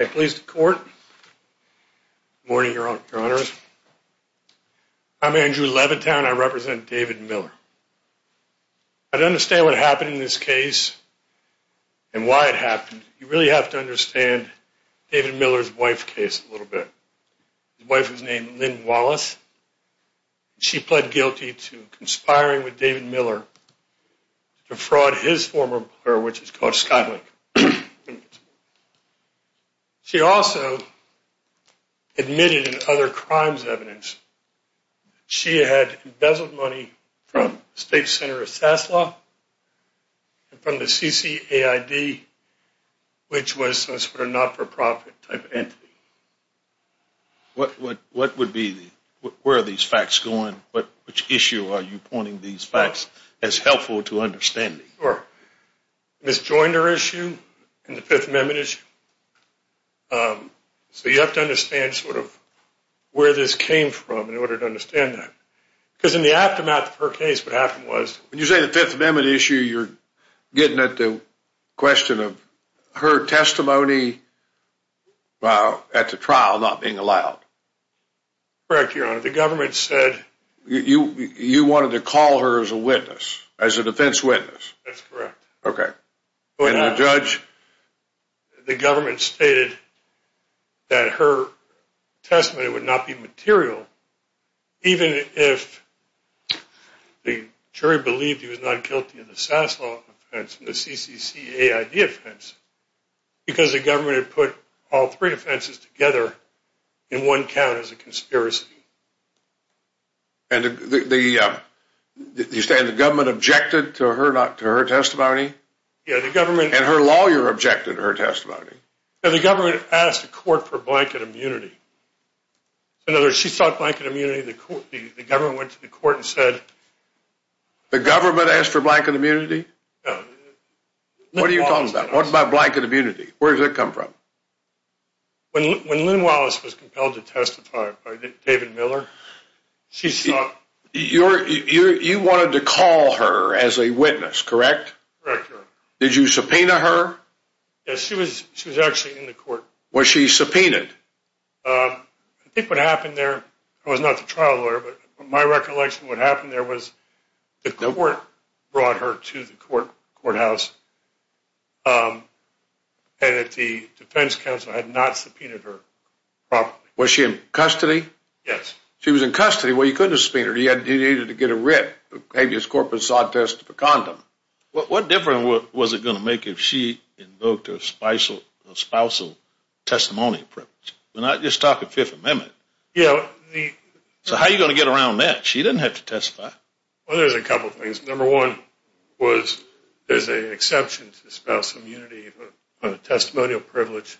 I'm Andrew Levitown. I represent David Miller. I don't understand what happened in this case and why it happened. You really have to understand David Miller's wife's case a little bit. His wife was named Lynn Wallace. She pled guilty to conspiring with David Miller to defraud his former employer, which is called Skylink. She also admitted in other crimes evidence that she had embezzled money from the State Center of SAS Law and from the CCAID, which was a not-for-profit type entity. Where are these facts going? Which issue are you pointing these facts as helpful to understanding? Sure. Ms. Joiner issue and the Fifth Amendment issue. So you have to understand sort of where this came from in order to understand that. Because in the aftermath of her case, what happened was... When you say the Fifth Amendment issue, you're getting at the question of her testimony at the trial not being allowed. Correct, Your Honor. The government said... You wanted to call her as a witness, as a defense witness. That's correct. Okay. And the judge? The government stated that her testimony would not be material even if the jury believed he was not guilty of the SAS Law offense and the CCCAID offense. Because the government had put all three offenses together in one count as a conspiracy. And the government objected to her testimony? Yeah, the government... And her lawyer objected to her testimony? Yeah, the government asked the court for blanket immunity. In other words, she sought blanket immunity. The government went to the court and said... The government asked for blanket immunity? Yeah. What are you talking about? What about blanket immunity? Where did that come from? When Lynn Wallace was compelled to testify by David Miller, she sought... You wanted to call her as a witness, correct? Correct, Your Honor. Did you subpoena her? Yes, she was actually in the court. Was she subpoenaed? I think what happened there, I was not the trial lawyer, but my recollection of what happened there was the court brought her to the courthouse and the defense counsel had not subpoenaed her properly. Was she in custody? Yes. She was in custody. Well, you couldn't have subpoenaed her. You needed to get a writ, maybe a corpus autist, a condom. What difference was it going to make if she invoked a spousal testimony privilege? We're not just talking Fifth Amendment. Yeah, the... So how are you going to get around that? She didn't have to testify. Well, there's a couple of things. Number one was there's an exception to the spousal immunity of a testimonial privilege.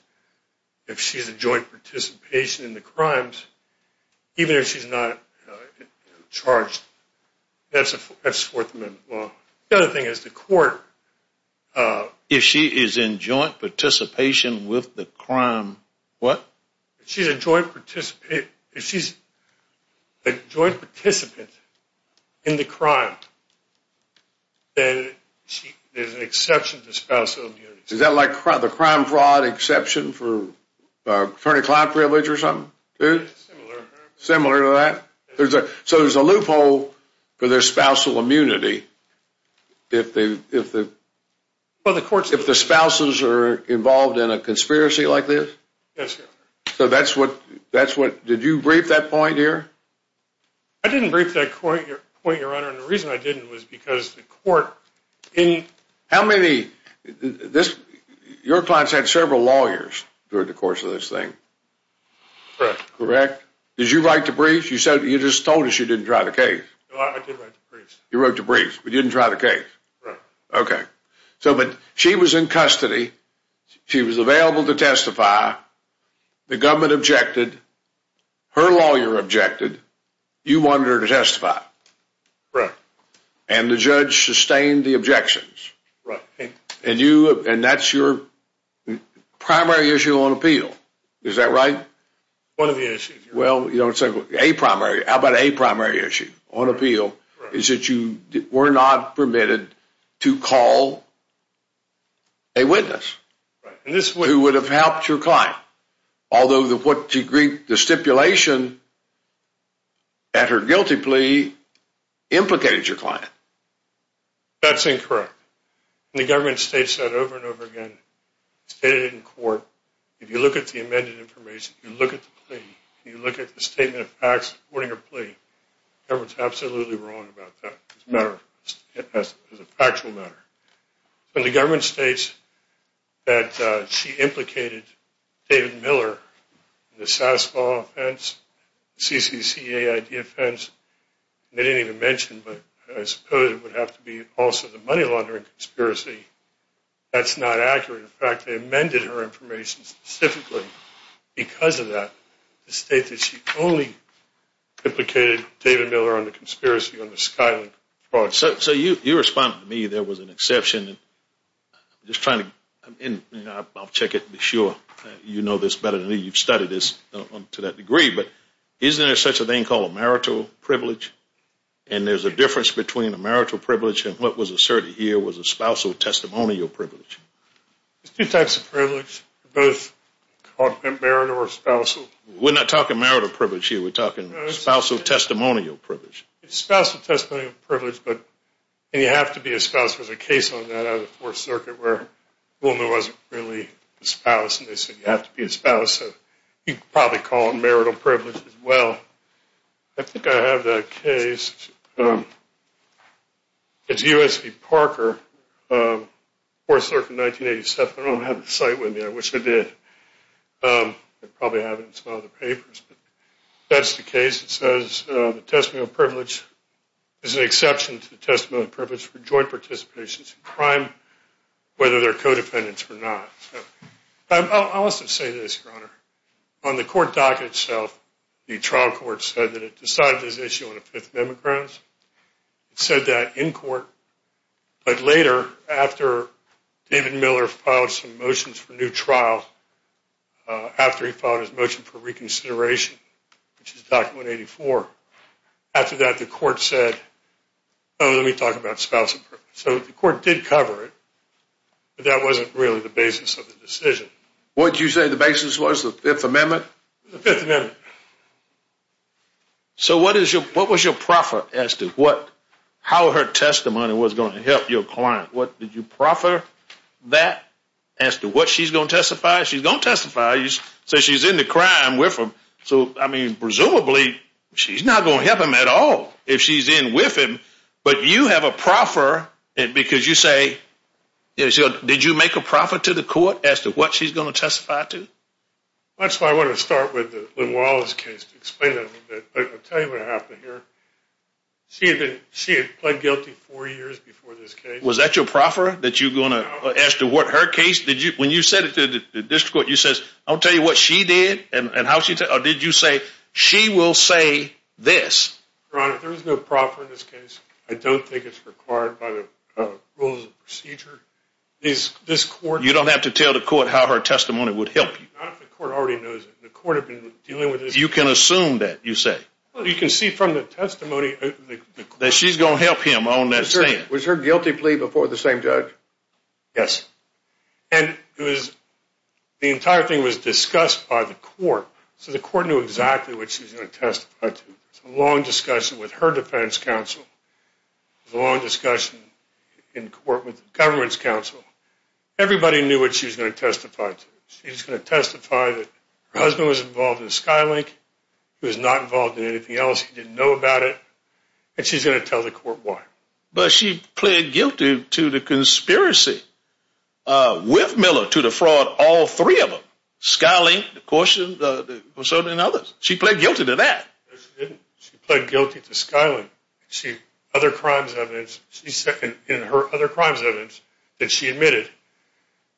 If she's in joint participation in the crimes, even if she's not charged, that's Fourth Amendment law. The other thing is the court... If she is in joint participation with the crime, what? If she's a joint participant in the crime, then there's an exception to spousal immunity. Is that like the crime fraud exception for attorney-client privilege or something? Similar. Similar to that? So there's a loophole for their spousal immunity if the spouses are involved in a conspiracy like this? Yes, Your Honor. So that's what... Did you brief that point here? I didn't brief that point, Your Honor, and the reason I didn't was because the court... How many... Your clients had several lawyers during the course of this thing. Correct. Correct? Did you write the brief? You just told us you didn't try the case. I did write the brief. You wrote the brief, but you didn't try the case. Correct. Okay. So she was in custody. She was available to testify. The government objected. Her lawyer objected. You wanted her to testify. Correct. And the judge sustained the objections. Right. And that's your primary issue on appeal. Is that right? One of the issues. Well, how about a primary issue on appeal is that you were not permitted to call a witness... Right. ...who would have helped your client. Although the stipulation at her guilty plea implicated your client. That's incorrect. The government states that over and over again. It's stated in court. If you look at the amended information, if you look at the plea, if you look at the statement of facts supporting her plea, the government's absolutely wrong about that. It's a matter of... It's a factual matter. When the government states that she implicated David Miller in the SAS law offense, the CCCAID offense, and they didn't even mention, but I suppose it would have to be also the money laundering conspiracy, that's not accurate. In fact, they amended her information specifically because of that. It states that she only implicated David Miller on the conspiracy on the Skyland fraud. So you responded to me there was an exception. I'm just trying to... I'll check it and be sure you know this better than me. You've studied this to that degree. But isn't there such a thing called a marital privilege? And there's a difference between a marital privilege and what was asserted here was a spousal testimonial privilege. There's two types of privilege. They're both called marital or spousal. We're not talking marital privilege here. We're talking spousal testimonial privilege. It's spousal testimonial privilege, but... And you have to be a spouse. There's a case on that out of the Fourth Circuit where a woman wasn't really a spouse, and they said you have to be a spouse. So you could probably call it marital privilege as well. I think I have that case. It's U.S. v. Parker, Fourth Circuit, 1987. I don't have the cite with me. I wish I did. I probably have it in some other papers. But that's the case. It says the testimonial privilege is an exception to the testimonial privilege for joint participations in crime, whether they're co-defendants or not. I'll also say this, Your Honor. On the court docket itself, the trial court said that it decided this issue on the Fifth Amendment grounds. It said that in court. But later, after David Miller filed some motions for a new trial, after he filed his motion for reconsideration, which is Doctrine 184, after that the court said, oh, let me talk about spousal privilege. So the court did cover it, but that wasn't really the basis of the decision. What did you say the basis was, the Fifth Amendment? The Fifth Amendment. So what was your proffer as to how her testimony was going to help your client? Did you proffer that as to what she's going to testify? She's going to testify. So she's in the crime with him. So, I mean, presumably she's not going to help him at all if she's in with him. But you have a proffer because you say, did you make a proffer to the court as to what she's going to testify to? That's why I want to start with Lynn Wallace's case to explain that a little bit. But I'll tell you what happened here. She had pled guilty four years before this case. Was that your proffer that you're going to ask to what her case? When you said it to the district court, you said, I'll tell you what she did and how she did it. Or did you say, she will say this? Your Honor, there was no proffer in this case. I don't think it's required by the rules of procedure. You don't have to tell the court how her testimony would help you. Not if the court already knows it. The court has been dealing with this. You can assume that, you say. Well, you can see from the testimony. That she's going to help him on that stand. Was her guilty plea before the same judge? Yes. And the entire thing was discussed by the court. So the court knew exactly what she was going to testify to. It was a long discussion with her defense counsel. It was a long discussion in court with the government's counsel. Everybody knew what she was going to testify to. She was going to testify that her husband was involved in Skylink. He was not involved in anything else. He didn't know about it. And she's going to tell the court why. But she pled guilty to the conspiracy with Miller to defraud all three of them. Skylink, the Courtship, and others. She pled guilty to that. No, she didn't. She pled guilty to Skylink. She said in her other crimes evidence that she admitted.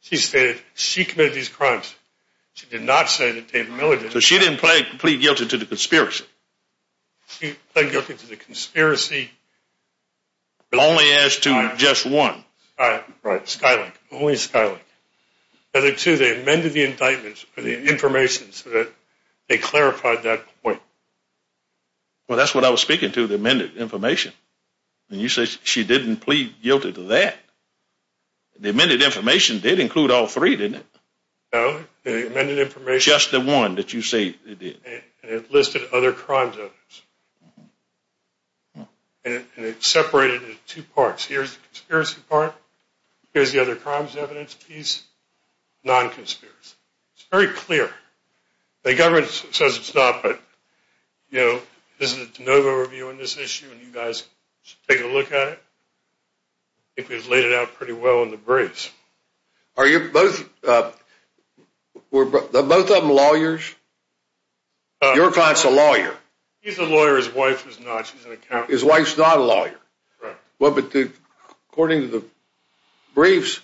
She stated she committed these crimes. She did not say that David Miller did. So she didn't plead guilty to the conspiracy. She pled guilty to the conspiracy. But only as to just one. Right. Skylink. Only Skylink. They amended the indictments for the information so that they clarified that point. Well, that's what I was speaking to, the amended information. And you say she didn't plead guilty to that. The amended information did include all three, didn't it? No. The amended information. Just the one that you say it did. And it listed other crimes. And it separated into two parts. Here's the conspiracy part. Here's the other crimes evidence piece. Non-conspiracy. It's very clear. The government says it's not. But, you know, this is a de novo review on this issue. And you guys should take a look at it. I think we've laid it out pretty well in the briefs. Are you both, were both of them lawyers? Your client's a lawyer. He's a lawyer. His wife is not. She's an accountant. His wife's not a lawyer. Right. Well, but according to the briefs,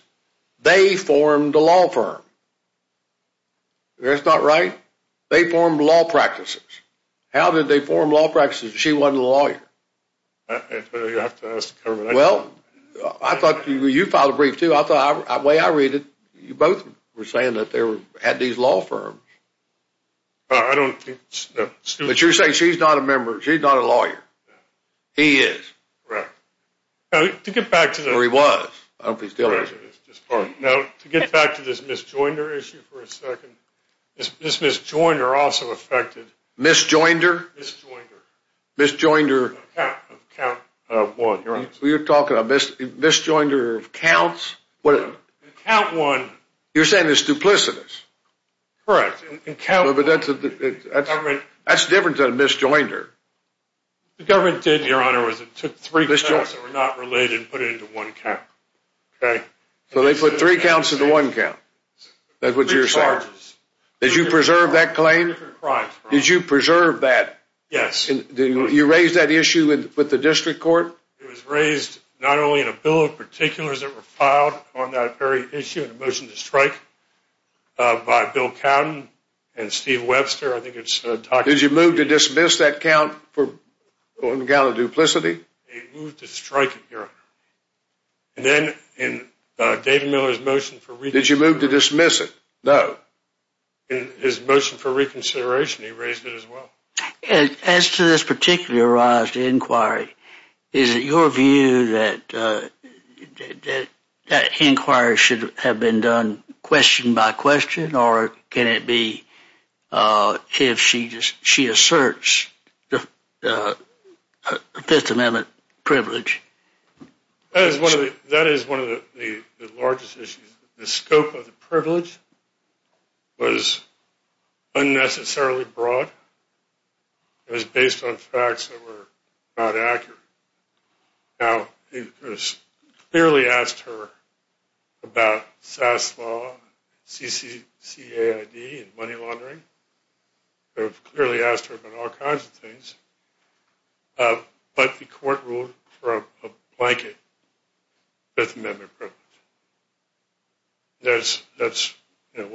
they formed a law firm. That's not right. They formed law practices. How did they form law practices if she wasn't a lawyer? You'll have to ask the government. Well, I thought you filed a brief, too. The way I read it, you both were saying that they had these law firms. I don't think so. But you're saying she's not a lawyer. He is. Correct. Now, to get back to the. Well, he was. I don't know if he's still is. Now, to get back to this Ms. Joinder issue for a second, Ms. Joinder also affected. Ms. Joinder? Ms. Joinder. Ms. Joinder. Of count one, Your Honor. You're talking about Ms. Joinder of counts? In count one. You're saying it's duplicitous. Correct. In count one. That's different than Ms. Joinder. The government did, Your Honor, was it took three counts that were not related and put it into one count. Okay. So they put three counts into one count. That's what you're saying. Three charges. Did you preserve that claim? Different crimes. Did you preserve that? Yes. You raised that issue with the district court? It was raised not only in a bill of particulars that were filed on that very issue and a motion to strike by Bill Cowden and Steve Webster. Did you move to dismiss that count on the count of duplicity? They moved to strike it, Your Honor. And then in David Miller's motion for reconsideration. Did you move to dismiss it? No. In his motion for reconsideration, he raised it as well. As to this particularized inquiry, is it your view that that inquiry should have been done question by question or can it be if she asserts the Fifth Amendment privilege? That is one of the largest issues. The scope of the privilege was unnecessarily broad. It was based on facts that were not accurate. Now, we clearly asked her about SAS law, CCAID and money laundering. We've clearly asked her about all kinds of things. But the court ruled for a blanket Fifth Amendment privilege. That's certainly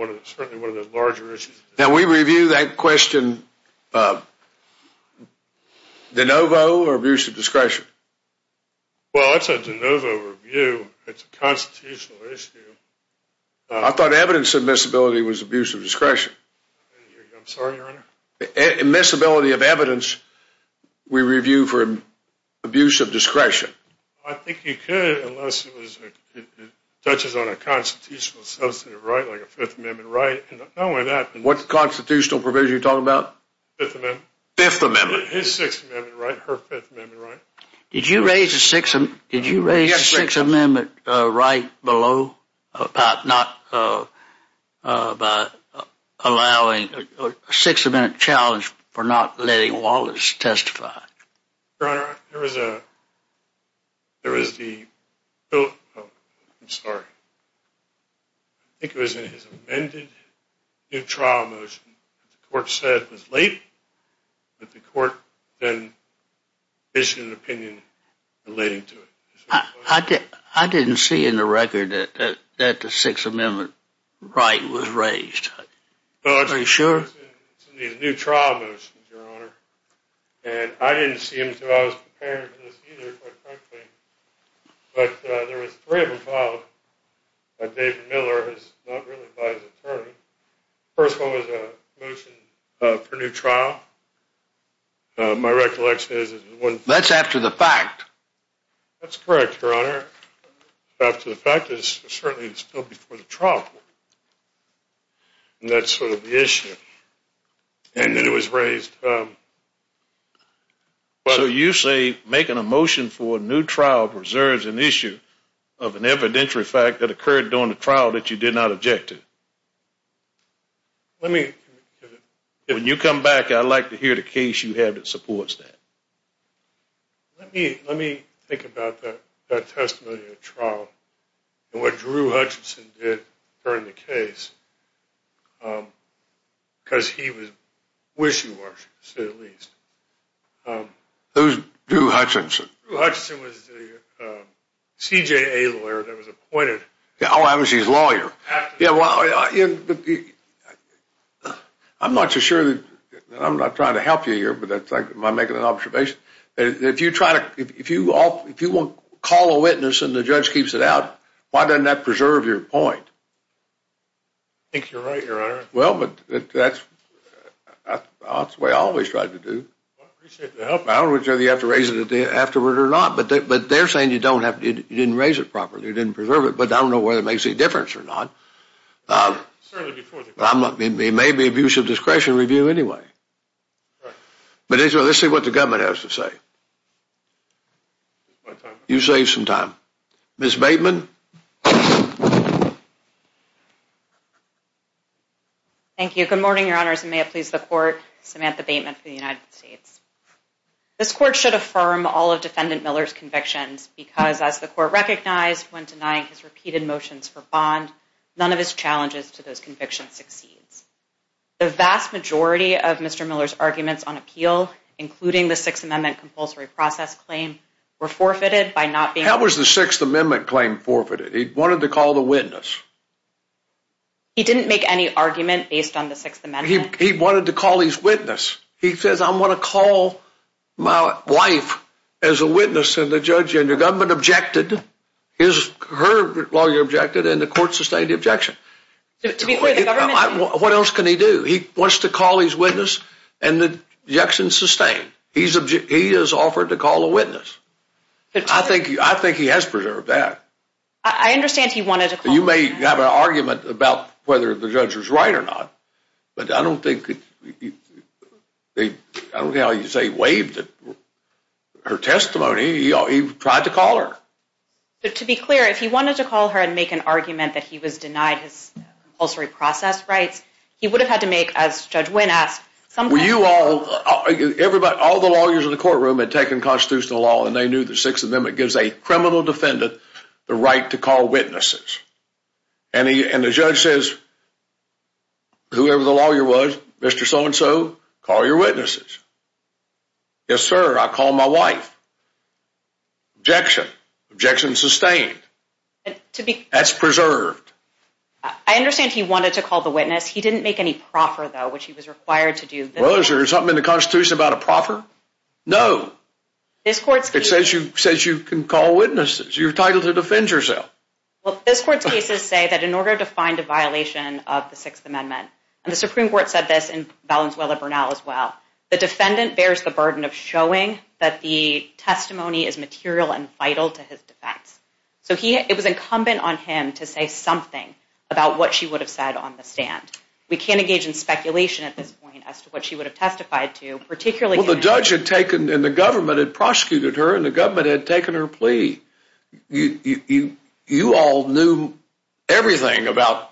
one of the larger issues. Now, we review that question de novo or abuse of discretion? Well, it's a de novo review. It's a constitutional issue. I thought evidence admissibility was abuse of discretion. I'm sorry, Your Honor? Admissibility of evidence we review for abuse of discretion. I think you could unless it touches on a constitutional substantive right like a Fifth Amendment right. What constitutional privilege are you talking about? Fifth Amendment. Fifth Amendment. His Sixth Amendment right, her Fifth Amendment right. Did you raise a Sixth Amendment right below about not allowing a Sixth Amendment challenge for not letting Wallace testify? Your Honor, I think it was in his amended new trial motion. The court said it was late, but the court then issued an opinion relating to it. I didn't see in the record that the Sixth Amendment right was raised. Are you sure? It was in these new trial motions, Your Honor. And I didn't see them until I was preparing for this either, quite frankly. But there was three of them filed by David Miller, not really by his attorney. The first one was a motion for new trial. My recollection is it was one— That's after the fact. That's correct, Your Honor. After the fact is certainly still before the trial court. And that's sort of the issue. And then it was raised— So you say making a motion for a new trial preserves an issue of an evidentiary fact that occurred during the trial that you did not object to? Let me— When you come back, I'd like to hear the case you have that supports that. Let me think about that testimony at trial and what Drew Hutchinson did during the case, because he was wishy-washy, to say the least. Who's Drew Hutchinson? Drew Hutchinson was the CJA lawyer that was appointed— Oh, I was his lawyer. Yeah, well, I'm not so sure that I'm not trying to help you here, but that's like my making an observation. If you try to—if you won't call a witness and the judge keeps it out, why doesn't that preserve your point? I think you're right, Your Honor. Well, but that's the way I always tried to do. Well, I appreciate the help. I don't know whether you have to raise it afterward or not, but they're saying you didn't raise it properly, you didn't preserve it. But I don't know whether it makes any difference or not. It may be abuse of discretion review anyway. But let's see what the government has to say. You saved some time. Ms. Bateman? Thank you. Good morning, Your Honors, and may it please the Court. Samantha Bateman for the United States. This Court should affirm all of Defendant Miller's convictions because as the Court recognized when denying his repeated motions for bond, none of his challenges to those convictions succeeds. The vast majority of Mr. Miller's arguments on appeal, including the Sixth Amendment compulsory process claim, were forfeited by not being— How was the Sixth Amendment claim forfeited? He wanted to call the witness. He didn't make any argument based on the Sixth Amendment. He wanted to call his witness. He says, I'm going to call my wife as a witness and the judge and the government objected. His—her lawyer objected, and the Court sustained the objection. To be clear, the government— What else can he do? He wants to call his witness, and the objection's sustained. He has offered to call a witness. I think he has preserved that. I understand he wanted to call— You may have an argument about whether the judge was right or not, but I don't think—I don't know how you say waived her testimony. He tried to call her. But to be clear, if he wanted to call her and make an argument that he was denied his compulsory process rights, he would have had to make, as Judge Wynn asked, some kind of— Were you all—all the lawyers in the courtroom had taken constitutional law and they knew the Sixth Amendment gives a criminal defendant the right to call witnesses. And he—and the judge says, whoever the lawyer was, Mr. So-and-so, call your witnesses. Yes, sir, I called my wife. Objection. Objection sustained. To be— That's preserved. I understand he wanted to call the witness. He didn't make any proffer, though, which he was required to do. Well, is there something in the Constitution about a proffer? No. This Court's— It says you—says you can call witnesses. You're entitled to defend yourself. Well, this Court's cases say that in order to find a violation of the Sixth Amendment— and the Supreme Court said this in Valenzuela-Burnell as well— the defendant bears the burden of showing that the testimony is material and vital to his defense. So he—it was incumbent on him to say something about what she would have said on the stand. We can't engage in speculation at this point as to what she would have testified to, particularly— The judge had taken—and the government had prosecuted her, and the government had taken her plea. You all knew everything about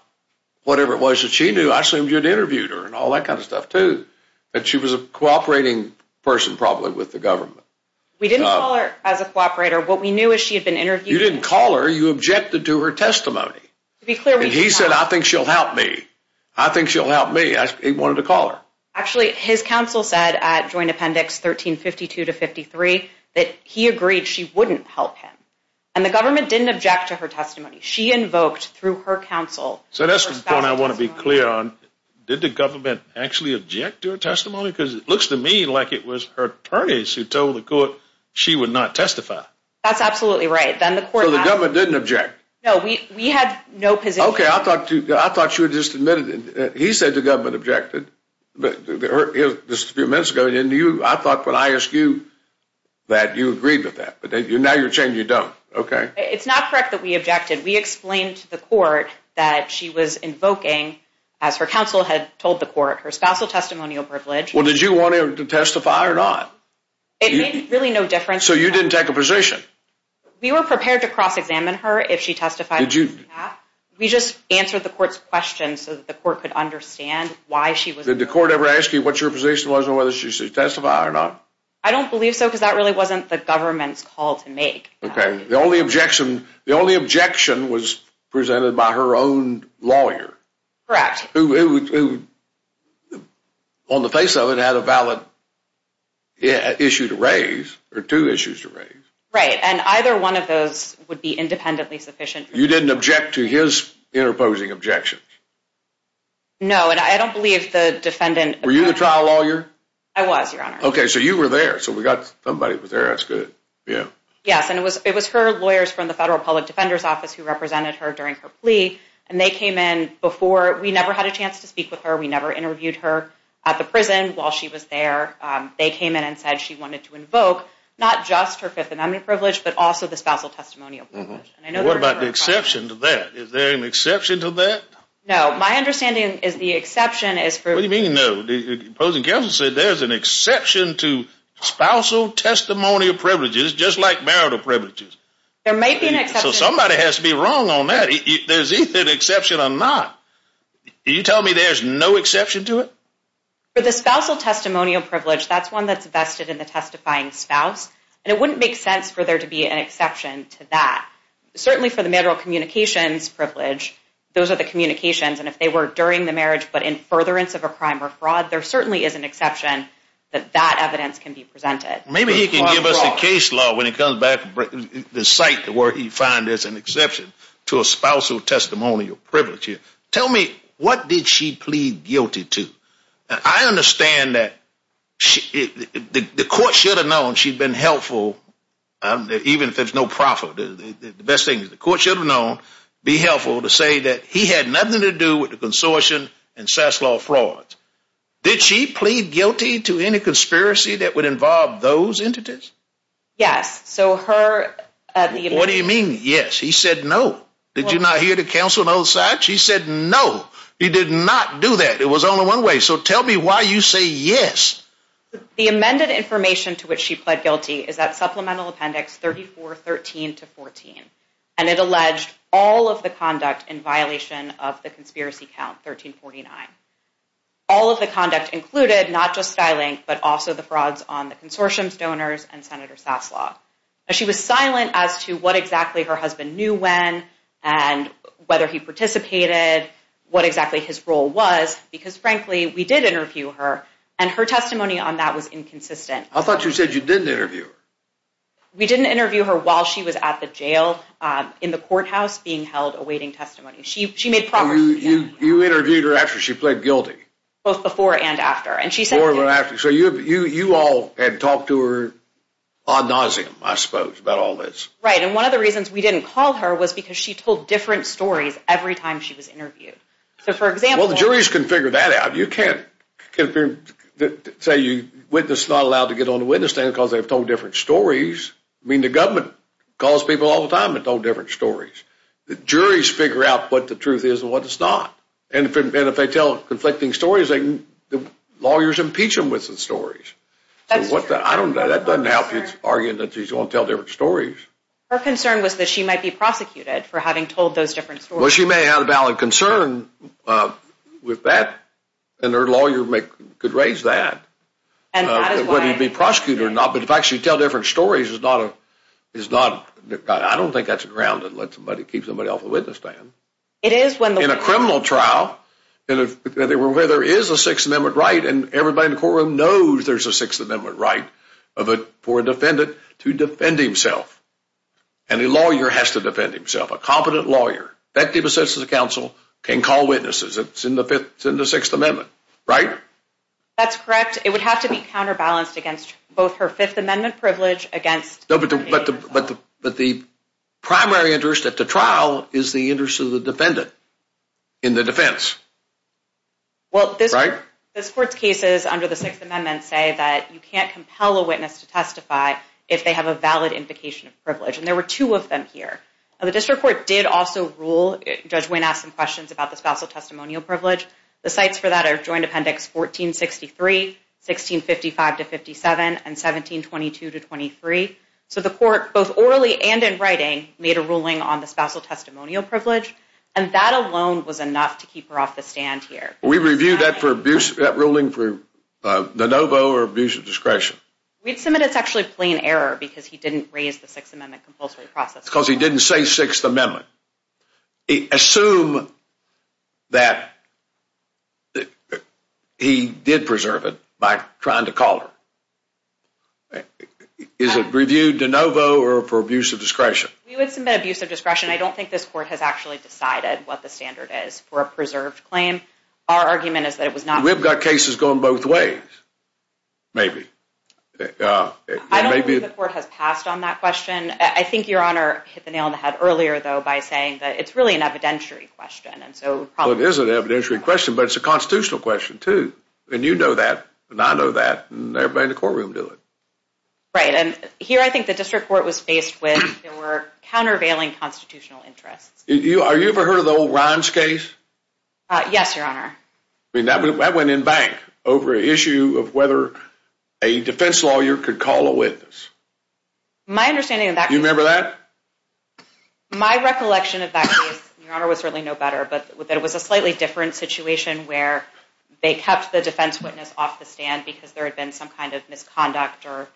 whatever it was that she knew. I assumed you'd interviewed her and all that kind of stuff, too. And she was a cooperating person, probably, with the government. We didn't call her as a cooperator. What we knew is she had been interviewed. You didn't call her. You objected to her testimony. To be clear, we did not— And he said, I think she'll help me. I think she'll help me. He wanted to call her. Actually, his counsel said at Joint Appendix 1352-53 that he agreed she wouldn't help him. And the government didn't object to her testimony. She invoked, through her counsel— So that's the point I want to be clear on. Did the government actually object to her testimony? Because it looks to me like it was her attorneys who told the court she would not testify. That's absolutely right. Then the court— So the government didn't object. No, we had no position— Okay, I thought you had just admitted it. He said the government objected. This was a few minutes ago. I thought when I asked you that you agreed with that. But now you're saying you don't. Okay. It's not correct that we objected. We explained to the court that she was invoking, as her counsel had told the court, her spousal testimonial privilege. Well, did you want her to testify or not? It made really no difference. So you didn't take a position? We were prepared to cross-examine her if she testified. Did you? We just answered the court's question so that the court could understand why she was— Did the court ever ask you what your position was and whether she should testify or not? I don't believe so because that really wasn't the government's call to make. Okay. The only objection was presented by her own lawyer. Correct. Who, on the face of it, had a valid issue to raise, or two issues to raise. Right. And either one of those would be independently sufficient. You didn't object to his interposing objections? No. And I don't believe the defendant— Were you the trial lawyer? I was, Your Honor. Okay. So you were there. So we got somebody that was there. That's good. Yeah. Yes. And it was her lawyers from the Federal Public Defender's Office who represented her during her plea. And they came in before—we never had a chance to speak with her. We never interviewed her at the prison while she was there. They came in and said she wanted to invoke not just her fifth anemone privilege, but also the spousal testimonial privilege. What about the exception to that? Is there an exception to that? No. My understanding is the exception is for— What do you mean, no? The opposing counsel said there's an exception to spousal testimonial privileges, just like marital privileges. There may be an exception— So somebody has to be wrong on that. There's either an exception or not. Are you telling me there's no exception to it? For the spousal testimonial privilege, that's one that's vested in the testifying spouse. And it wouldn't make sense for there to be an exception to that. Certainly for the marital communications privilege, those are the communications. And if they were during the marriage but in furtherance of a crime or fraud, there certainly is an exception that that evidence can be presented. Maybe he can give us a case law when he comes back to cite where he finds there's an exception to a spousal testimonial privilege here. Tell me, what did she plead guilty to? I understand that the court should have known she'd been helpful, even if there's no profit. The best thing is the court should have known, be helpful, to say that he had nothing to do with the consortium and SAS law frauds. Did she plead guilty to any conspiracy that would involve those entities? Yes. So her— What do you mean, yes? He said no. Did you not hear the counsel on both sides? She said no. He did not do that. It was only one way. So tell me why you say yes. The amended information to which she pled guilty is at Supplemental Appendix 3413-14. And it alleged all of the conduct in violation of the conspiracy count 1349. All of the conduct included, not just SkyLink, but also the frauds on the consortium's donors and Senator SAS law. She was silent as to what exactly her husband knew when and whether he participated, what exactly his role was, because frankly, we did interview her, and her testimony on that was inconsistent. I thought you said you didn't interview her. We didn't interview her while she was at the jail in the courthouse being held awaiting testimony. She made progress. You interviewed her after she pled guilty. Both before and after. Before and after. So you all had talked to her ad nauseum, I suppose, about all this. Right. And one of the reasons we didn't call her was because she told different stories every time she was interviewed. So, for example— Well, the juries can figure that out. You can't say a witness is not allowed to get on the witness stand because they've told different stories. I mean, the government calls people all the time and told different stories. The juries figure out what the truth is and what it's not. And if they tell conflicting stories, the lawyers impeach them with the stories. That's true. I don't know. That doesn't help his argument that he's going to tell different stories. Her concern was that she might be prosecuted for having told those different stories. Well, she may have had a valid concern with that, and her lawyer could raise that. And that is why— Whether he'd be prosecuted or not, but the fact she'd tell different stories is not— I don't think that's a ground to let somebody keep somebody off the witness stand. It is when the— In a criminal trial, where there is a Sixth Amendment right, and everybody in the courtroom knows there's a Sixth Amendment right for a defendant to defend himself. And a lawyer has to defend himself. A competent lawyer, effective in the sense of the counsel, can call witnesses. It's in the Sixth Amendment, right? That's correct. It would have to be counterbalanced against both her Fifth Amendment privilege against— But the primary interest at the trial is the interest of the defendant in the defense. Well, this court's cases under the Sixth Amendment say that you can't compel a witness to testify if they have a valid implication of privilege. And there were two of them here. The district court did also rule— Judge Wynne asked some questions about the spousal testimonial privilege. The cites for that are Joint Appendix 1463, 1655-57, and 1722-23. So the court, both orally and in writing, made a ruling on the spousal testimonial privilege. And that alone was enough to keep her off the stand here. We reviewed that for abuse—that ruling for de novo or abuse of discretion. We'd submit it's actually a plain error because he didn't raise the Sixth Amendment compulsory process. Because he didn't say Sixth Amendment. Assume that he did preserve it by trying to call her. Is it reviewed de novo or for abuse of discretion? We would submit abuse of discretion. I don't think this court has actually decided what the standard is for a preserved claim. Our argument is that it was not— We've got cases going both ways, maybe. I don't believe the court has passed on that question. I think Your Honor hit the nail on the head earlier, though, by saying that it's really an evidentiary question. Well, it is an evidentiary question, but it's a constitutional question, too. And you know that, and I know that, and everybody in the courtroom knew it. Right, and here I think the district court was faced with countervailing constitutional interests. Are you ever heard of the old Rhimes case? Yes, Your Honor. I mean, that went in bank over an issue of whether a defense lawyer could call a witness. My understanding of that case— Do you remember that? My recollection of that case, Your Honor, was certainly no better, but it was a slightly different situation where they kept the defense witness off the stand because there had been some kind of misconduct or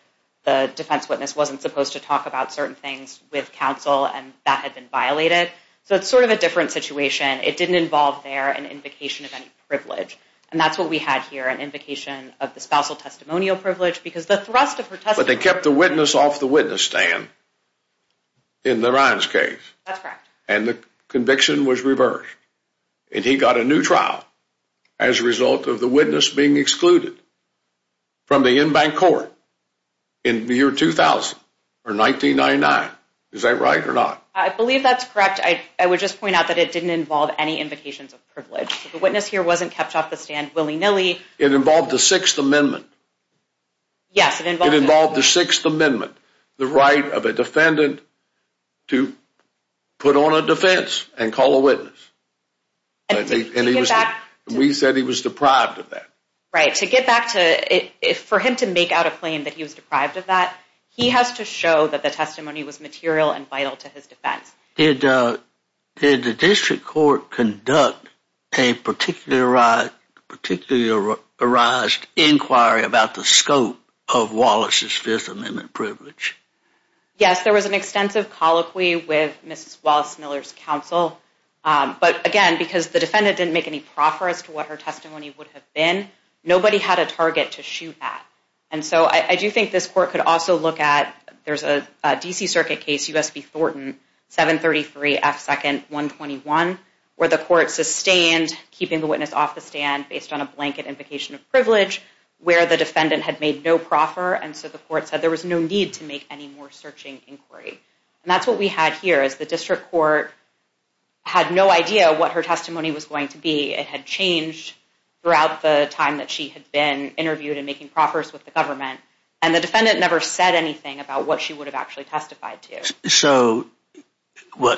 the defense witness wasn't supposed to talk about certain things with counsel and that had been violated. So it's sort of a different situation. It didn't involve there an invocation of any privilege, and that's what we had here, an invocation of the spousal testimonial privilege because the thrust of her testimony— But they kept the witness off the witness stand in the Rhimes case. That's correct. And the conviction was reversed, and he got a new trial as a result of the witness being excluded from the in-bank court in the year 2000 or 1999. Is that right or not? I believe that's correct. I would just point out that it didn't involve any invocations of privilege. The witness here wasn't kept off the stand willy-nilly. It involved the Sixth Amendment. Yes, it involved— It involved the Sixth Amendment, the right of a defendant to put on a defense and call a witness. And he was— To get back to— And we said he was deprived of that. Right. To get back to—for him to make out a claim that he was deprived of that, he has to show that the testimony was material and vital to his defense. Did the district court conduct a particularized inquiry about the scope of Wallace's Fifth Amendment privilege? Yes, there was an extensive colloquy with Mrs. Wallace Miller's counsel. But again, because the defendant didn't make any proffer as to what her testimony would have been, nobody had a target to shoot at. And so I do think this court could also look at— where the court sustained keeping the witness off the stand based on a blanket invocation of privilege, where the defendant had made no proffer, and so the court said there was no need to make any more searching inquiry. And that's what we had here, is the district court had no idea what her testimony was going to be. It had changed throughout the time that she had been interviewed and making proffers with the government. And the defendant never said anything about what she would have actually testified to. So,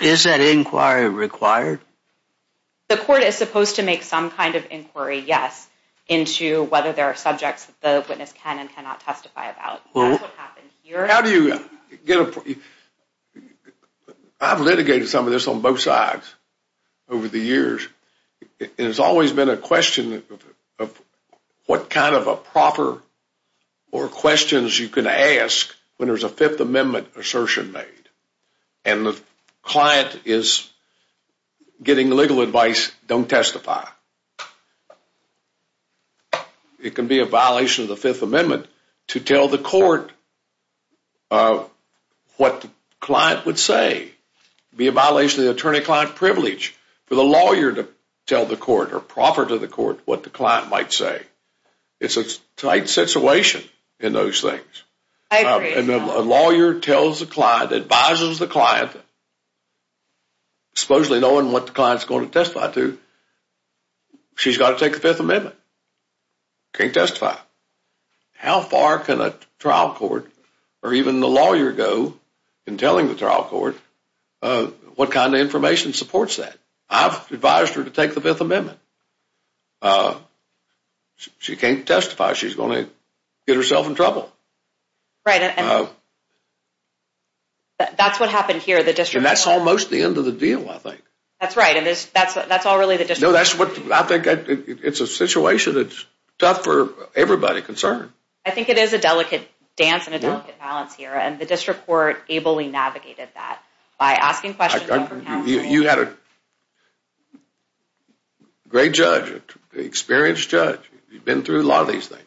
is that inquiry required? The court is supposed to make some kind of inquiry, yes, into whether there are subjects that the witness can and cannot testify about. That's what happened here. How do you get a—I've litigated some of this on both sides over the years, and it's always been a question of what kind of a proffer or questions you can ask when there's a Fifth Amendment assertion made, and the client is getting legal advice, don't testify. It can be a violation of the Fifth Amendment to tell the court what the client would say. It can be a violation of the attorney-client privilege for the lawyer to tell the court or proffer to the court what the client might say. It's a tight situation in those things. I agree. A lawyer tells the client, advises the client, supposedly knowing what the client is going to testify to, she's got to take the Fifth Amendment. She can't testify. How far can a trial court or even the lawyer go in telling the trial court what kind of information supports that? I've advised her to take the Fifth Amendment. She can't testify. She's going to get herself in trouble. Right. That's what happened here. And that's almost the end of the deal, I think. That's right, and that's all really the district court— No, that's what—I think it's a situation that's tough for everybody concerned. I think it is a delicate dance and a delicate balance here, and the district court ably navigated that by asking questions over counseling. You had a great judge, an experienced judge. You've been through a lot of these things.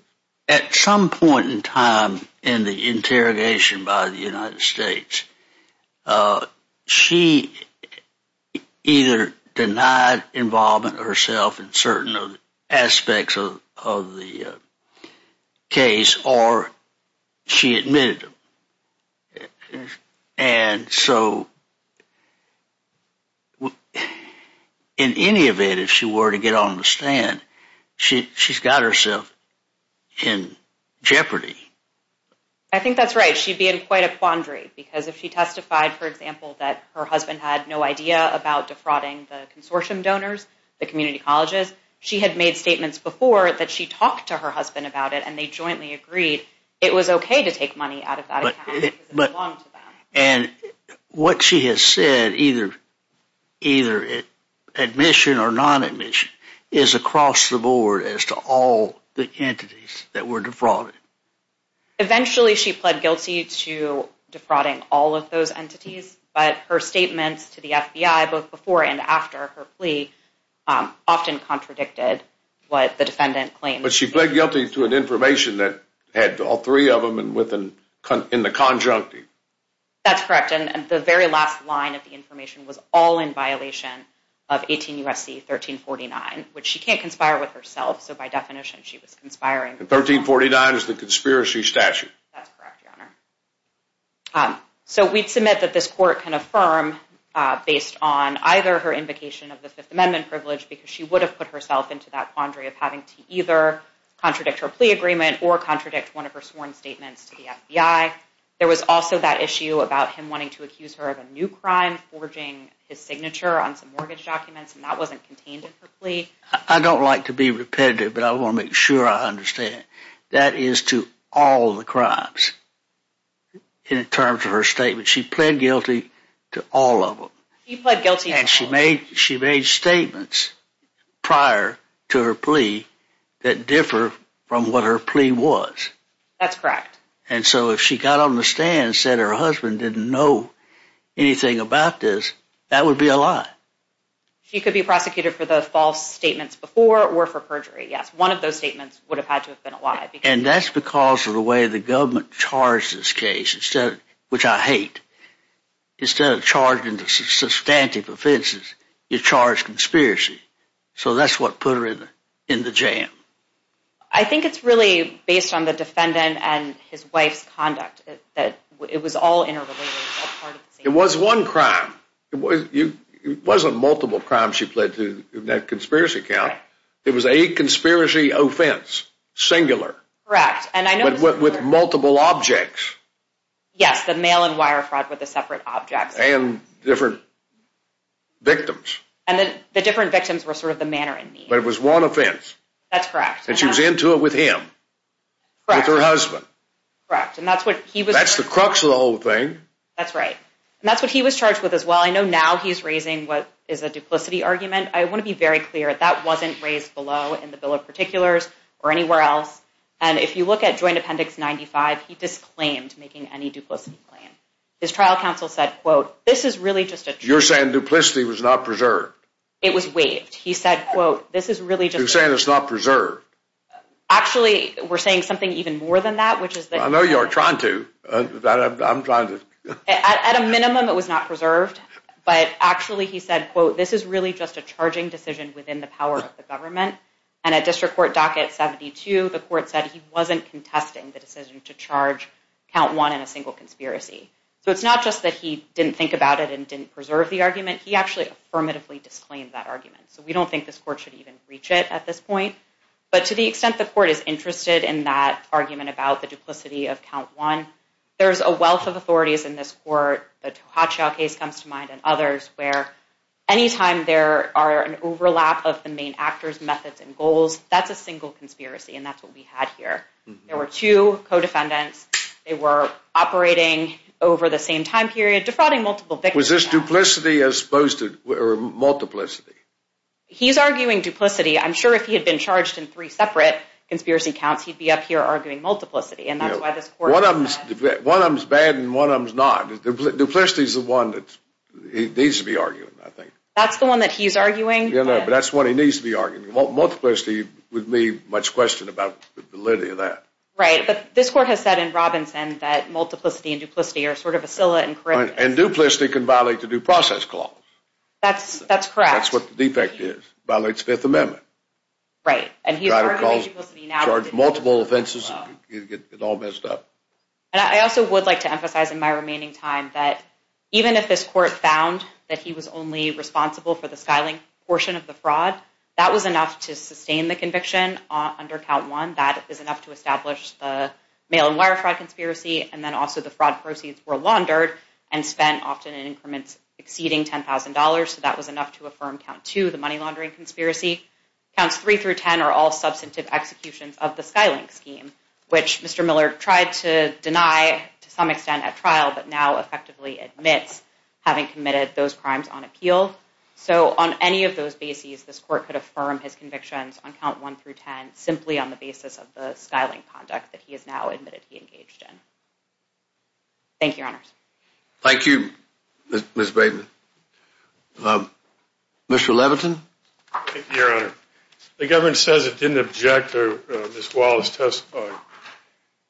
At some point in time in the interrogation by the United States, she either denied involvement herself in certain aspects of the case or she admitted them. And so in any event, if she were to get on the stand, she's got herself in jeopardy. I think that's right. She'd be in quite a quandary because if she testified, for example, that her husband had no idea about defrauding the consortium donors, the community colleges, she had made statements before that she talked to her husband about it, and they jointly agreed it was okay to take money out of that account because it belonged to them. And what she has said, either admission or non-admission, is across the board as to all the entities that were defrauded. Eventually she pled guilty to defrauding all of those entities, but her statements to the FBI both before and after her plea often contradicted what the defendant claimed. But she pled guilty to an information that had all three of them in the conjunctive. That's correct. And the very last line of the information was all in violation of 18 U.S.C. 1349, which she can't conspire with herself, so by definition she was conspiring. And 1349 is the conspiracy statute. That's correct, Your Honor. So we'd submit that this court can affirm, based on either her invocation of the Fifth Amendment privilege because she would have put herself into that quandary of having to either contradict her plea agreement or contradict one of her sworn statements to the FBI. There was also that issue about him wanting to accuse her of a new crime, forging his signature on some mortgage documents, and that wasn't contained in her plea. I don't like to be repetitive, but I want to make sure I understand. That is to all the crimes in terms of her statements. She pled guilty to all of them. She pled guilty to all of them. And she made statements prior to her plea that differ from what her plea was. That's correct. And so if she got on the stand and said her husband didn't know anything about this, that would be a lie. She could be prosecuted for the false statements before or for perjury, yes. One of those statements would have had to have been a lie. And that's because of the way the government charged this case, which I hate. Instead of charging the substantive offenses, you charge conspiracy. So that's what put her in the jam. I think it's really based on the defendant and his wife's conduct. It was all interrelated. It was one crime. It wasn't multiple crimes she pled to in that conspiracy count. It was a conspiracy offense, singular. Correct. With multiple objects. Yes, the mail and wire fraud with the separate objects. And different victims. And the different victims were sort of the manner in need. But it was one offense. That's correct. And she was into it with him. Correct. With her husband. Correct. And that's what he was charged with. That's the crux of the whole thing. That's right. And that's what he was charged with as well. I know now he's raising what is a duplicity argument. I want to be very clear. That wasn't raised below in the Bill of Particulars or anywhere else. And if you look at Joint Appendix 95, he disclaimed making any duplicity claim. His trial counsel said, quote, this is really just a... You're saying duplicity was not preserved. It was waived. He said, quote, this is really just... You're saying it's not preserved. Actually, we're saying something even more than that, which is that... I know you are trying to. I'm trying to... At a minimum, it was not preserved. And at District Court Docket 72, the court said he wasn't contesting the decision to charge Count 1 in a single conspiracy. So it's not just that he didn't think about it and didn't preserve the argument. He actually affirmatively disclaimed that argument. So we don't think this court should even reach it at this point. But to the extent the court is interested in that argument about the duplicity of Count 1, there's a wealth of authorities in this court. The Tohatchio case comes to mind and others where anytime there are an overlap of the main actors, methods, and goals, that's a single conspiracy. And that's what we had here. There were two co-defendants. They were operating over the same time period, defrauding multiple victims. Was this duplicity as opposed to multiplicity? He's arguing duplicity. I'm sure if he had been charged in three separate conspiracy counts, he'd be up here arguing multiplicity. And that's why this court... One of them's bad and one of them's not. Duplicity is the one that he needs to be arguing, I think. That's the one that he's arguing? Yeah, but that's the one he needs to be arguing. Multiplicity would leave much question about validity of that. Right, but this court has said in Robinson that multiplicity and duplicity are sort of a scala in correctness. And duplicity can violate the due process clause. That's correct. That's what the defect is. It violates the Fifth Amendment. Right. Charge multiple offenses. You'd get it all messed up. And I also would like to emphasize in my remaining time that even if this court found that he was only responsible for the SkyLink portion of the fraud, that was enough to sustain the conviction under Count 1. That is enough to establish the mail-and-wire fraud conspiracy. And then also the fraud proceeds were laundered and spent often in increments exceeding $10,000. So that was enough to affirm Count 2, the money laundering conspiracy. Counts 3 through 10 are all substantive executions of the SkyLink scheme, which Mr. Miller tried to deny to some extent at trial but now effectively admits having committed those crimes on appeal. So on any of those bases, this court could affirm his convictions on Count 1 through 10 simply on the basis of the SkyLink conduct that he has now admitted he engaged in. Thank you, Your Honors. Thank you, Ms. Braden. Mr. Levitin? Your Honor, the government says it didn't object to Ms. Wallace testifying.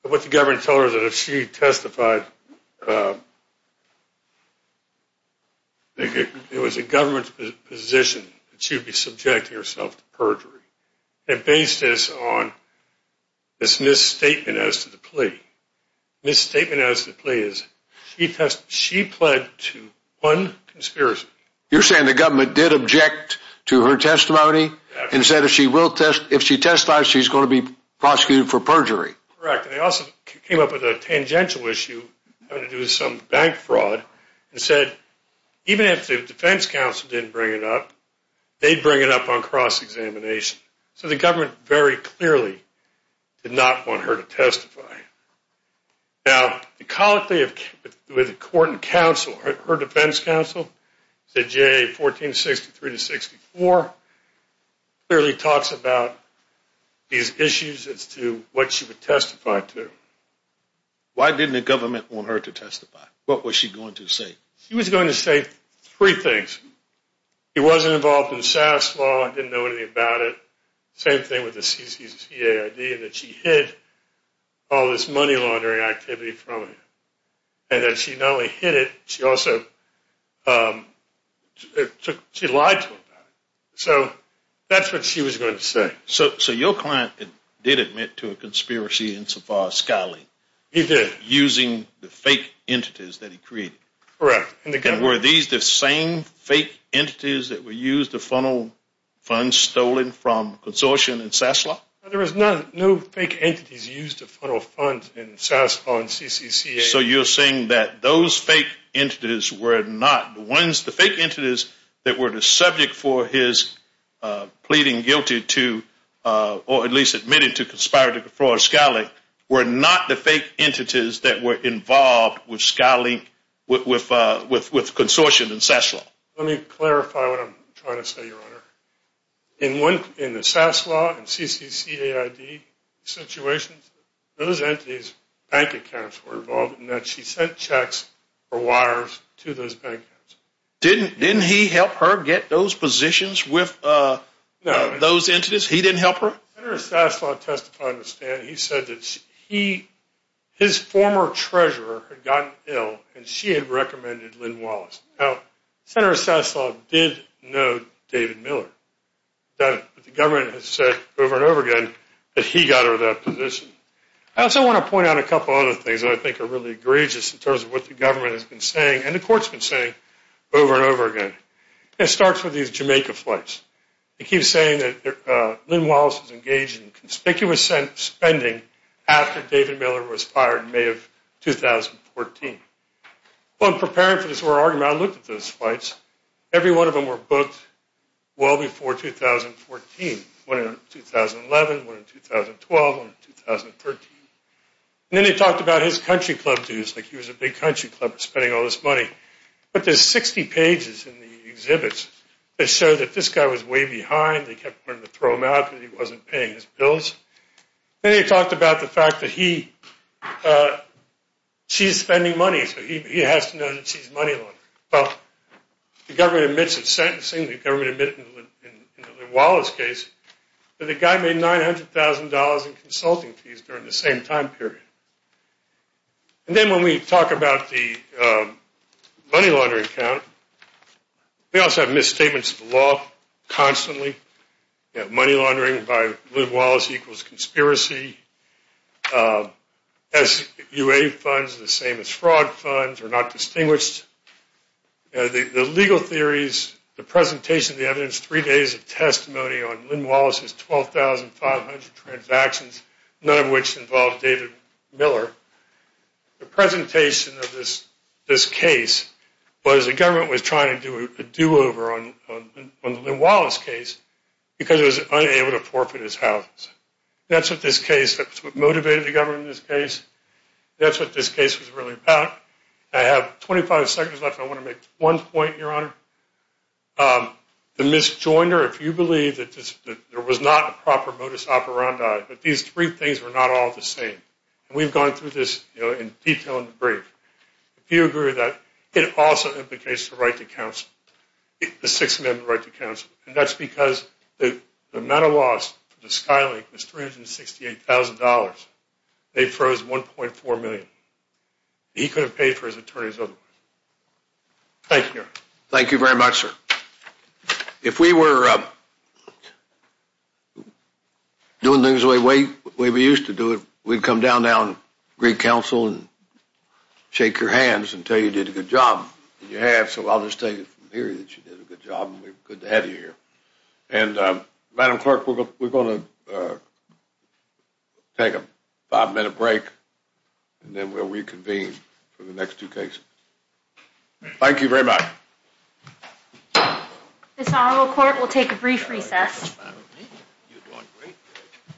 But what the government told her is that if she testified, it was the government's position that she would be subjecting herself to perjury. It based this on this misstatement as to the plea. The misstatement as to the plea is she pled to one conspiracy. You're saying the government did object to her testimony and said if she testifies, she's going to be prosecuted for perjury? Correct. They also came up with a tangential issue having to do with some bank fraud and said even if the defense counsel didn't bring it up, they'd bring it up on cross-examination. So the government very clearly did not want her to testify. Now, with the court and counsel, her defense counsel, J1463-64, clearly talks about these issues as to what she would testify to. Why didn't the government want her to testify? What was she going to say? She was going to say three things. She wasn't involved in SAS law and didn't know anything about it. Same thing with the CCCAID and that she hid all this money laundering activity from her. And that she not only hid it, she also lied to her about it. So that's what she was going to say. So your client did admit to a conspiracy in so far as scouting. He did. Using the fake entities that he created. Correct. And were these the same fake entities that were used to funnel funds stolen from consortium and SAS law? There was no fake entities used to funnel funds in SAS law and CCCAID. So you're saying that those fake entities were not the ones, the fake entities that were the subject for his pleading guilty to, or at least admitted to conspiring to defraud Skylink, were not the fake entities that were involved with Skylink, with consortium and SAS law? Let me clarify what I'm trying to say, Your Honor. In the SAS law and CCCAID situations, those entities, bank accounts were involved in that. She sent checks or wires to those bank accounts. Didn't he help her get those positions with those entities? He didn't help her? Senator Saslaw testified in the stand. He said that his former treasurer had gotten ill and she had recommended Lynn Wallace. Now, Senator Saslaw did know David Miller. But the government has said over and over again that he got her that position. I also want to point out a couple of other things that I think are really egregious in terms of what the government has been saying and the courts have been saying over and over again. It starts with these Jamaica flights. They keep saying that Lynn Wallace was engaged in conspicuous spending after David Miller was fired in May of 2014. Well, in preparing for this whole argument, I looked at those flights. Every one of them were booked well before 2014. One in 2011, one in 2012, one in 2013. And then he talked about his country club dues, like he was a big country club, spending all this money. But there's 60 pages in the exhibits that show that this guy was way behind. They kept wanting to throw him out because he wasn't paying his bills. Then he talked about the fact that she's spending money, so he has to know that she's money laundering. Well, the government admits in sentencing, the government admits in the Wallace case, that the guy made $900,000 in consulting fees during the same time period. And then when we talk about the money laundering count, we also have misstatements of the law constantly. We have money laundering by Lynn Wallace equals conspiracy. SUA funds are the same as fraud funds, are not distinguished. The legal theories, the presentation of the evidence, three days of testimony on Lynn Wallace's 12,500 transactions, none of which involved David Miller. The presentation of this case was the government was trying to do a do-over on the Lynn Wallace case because it was unable to forfeit his house. That's what motivated the government in this case. That's what this case was really about. I have 25 seconds left. I want to make one point, Your Honor. The misjoinder, if you believe that there was not a proper modus operandi, that these three things were not all the same. And we've gone through this in detail in the brief. If you agree with that, it also implicates the right to counsel, the Sixth Amendment right to counsel. And that's because the amount of loss to Skylink was $368,000. They froze $1.4 million. He could have paid for his attorneys otherwise. Thank you, Your Honor. Thank you very much, sir. If we were doing things the way we used to do it, we'd come down to Greek Council and shake your hands and tell you you did a good job. So I'll just tell you from here that you did a good job, and we're good to have you here. And, Madam Clerk, we're going to take a five-minute break, and then we'll reconvene for the next two cases. Thank you very much. This Honorable Court will take a brief recess.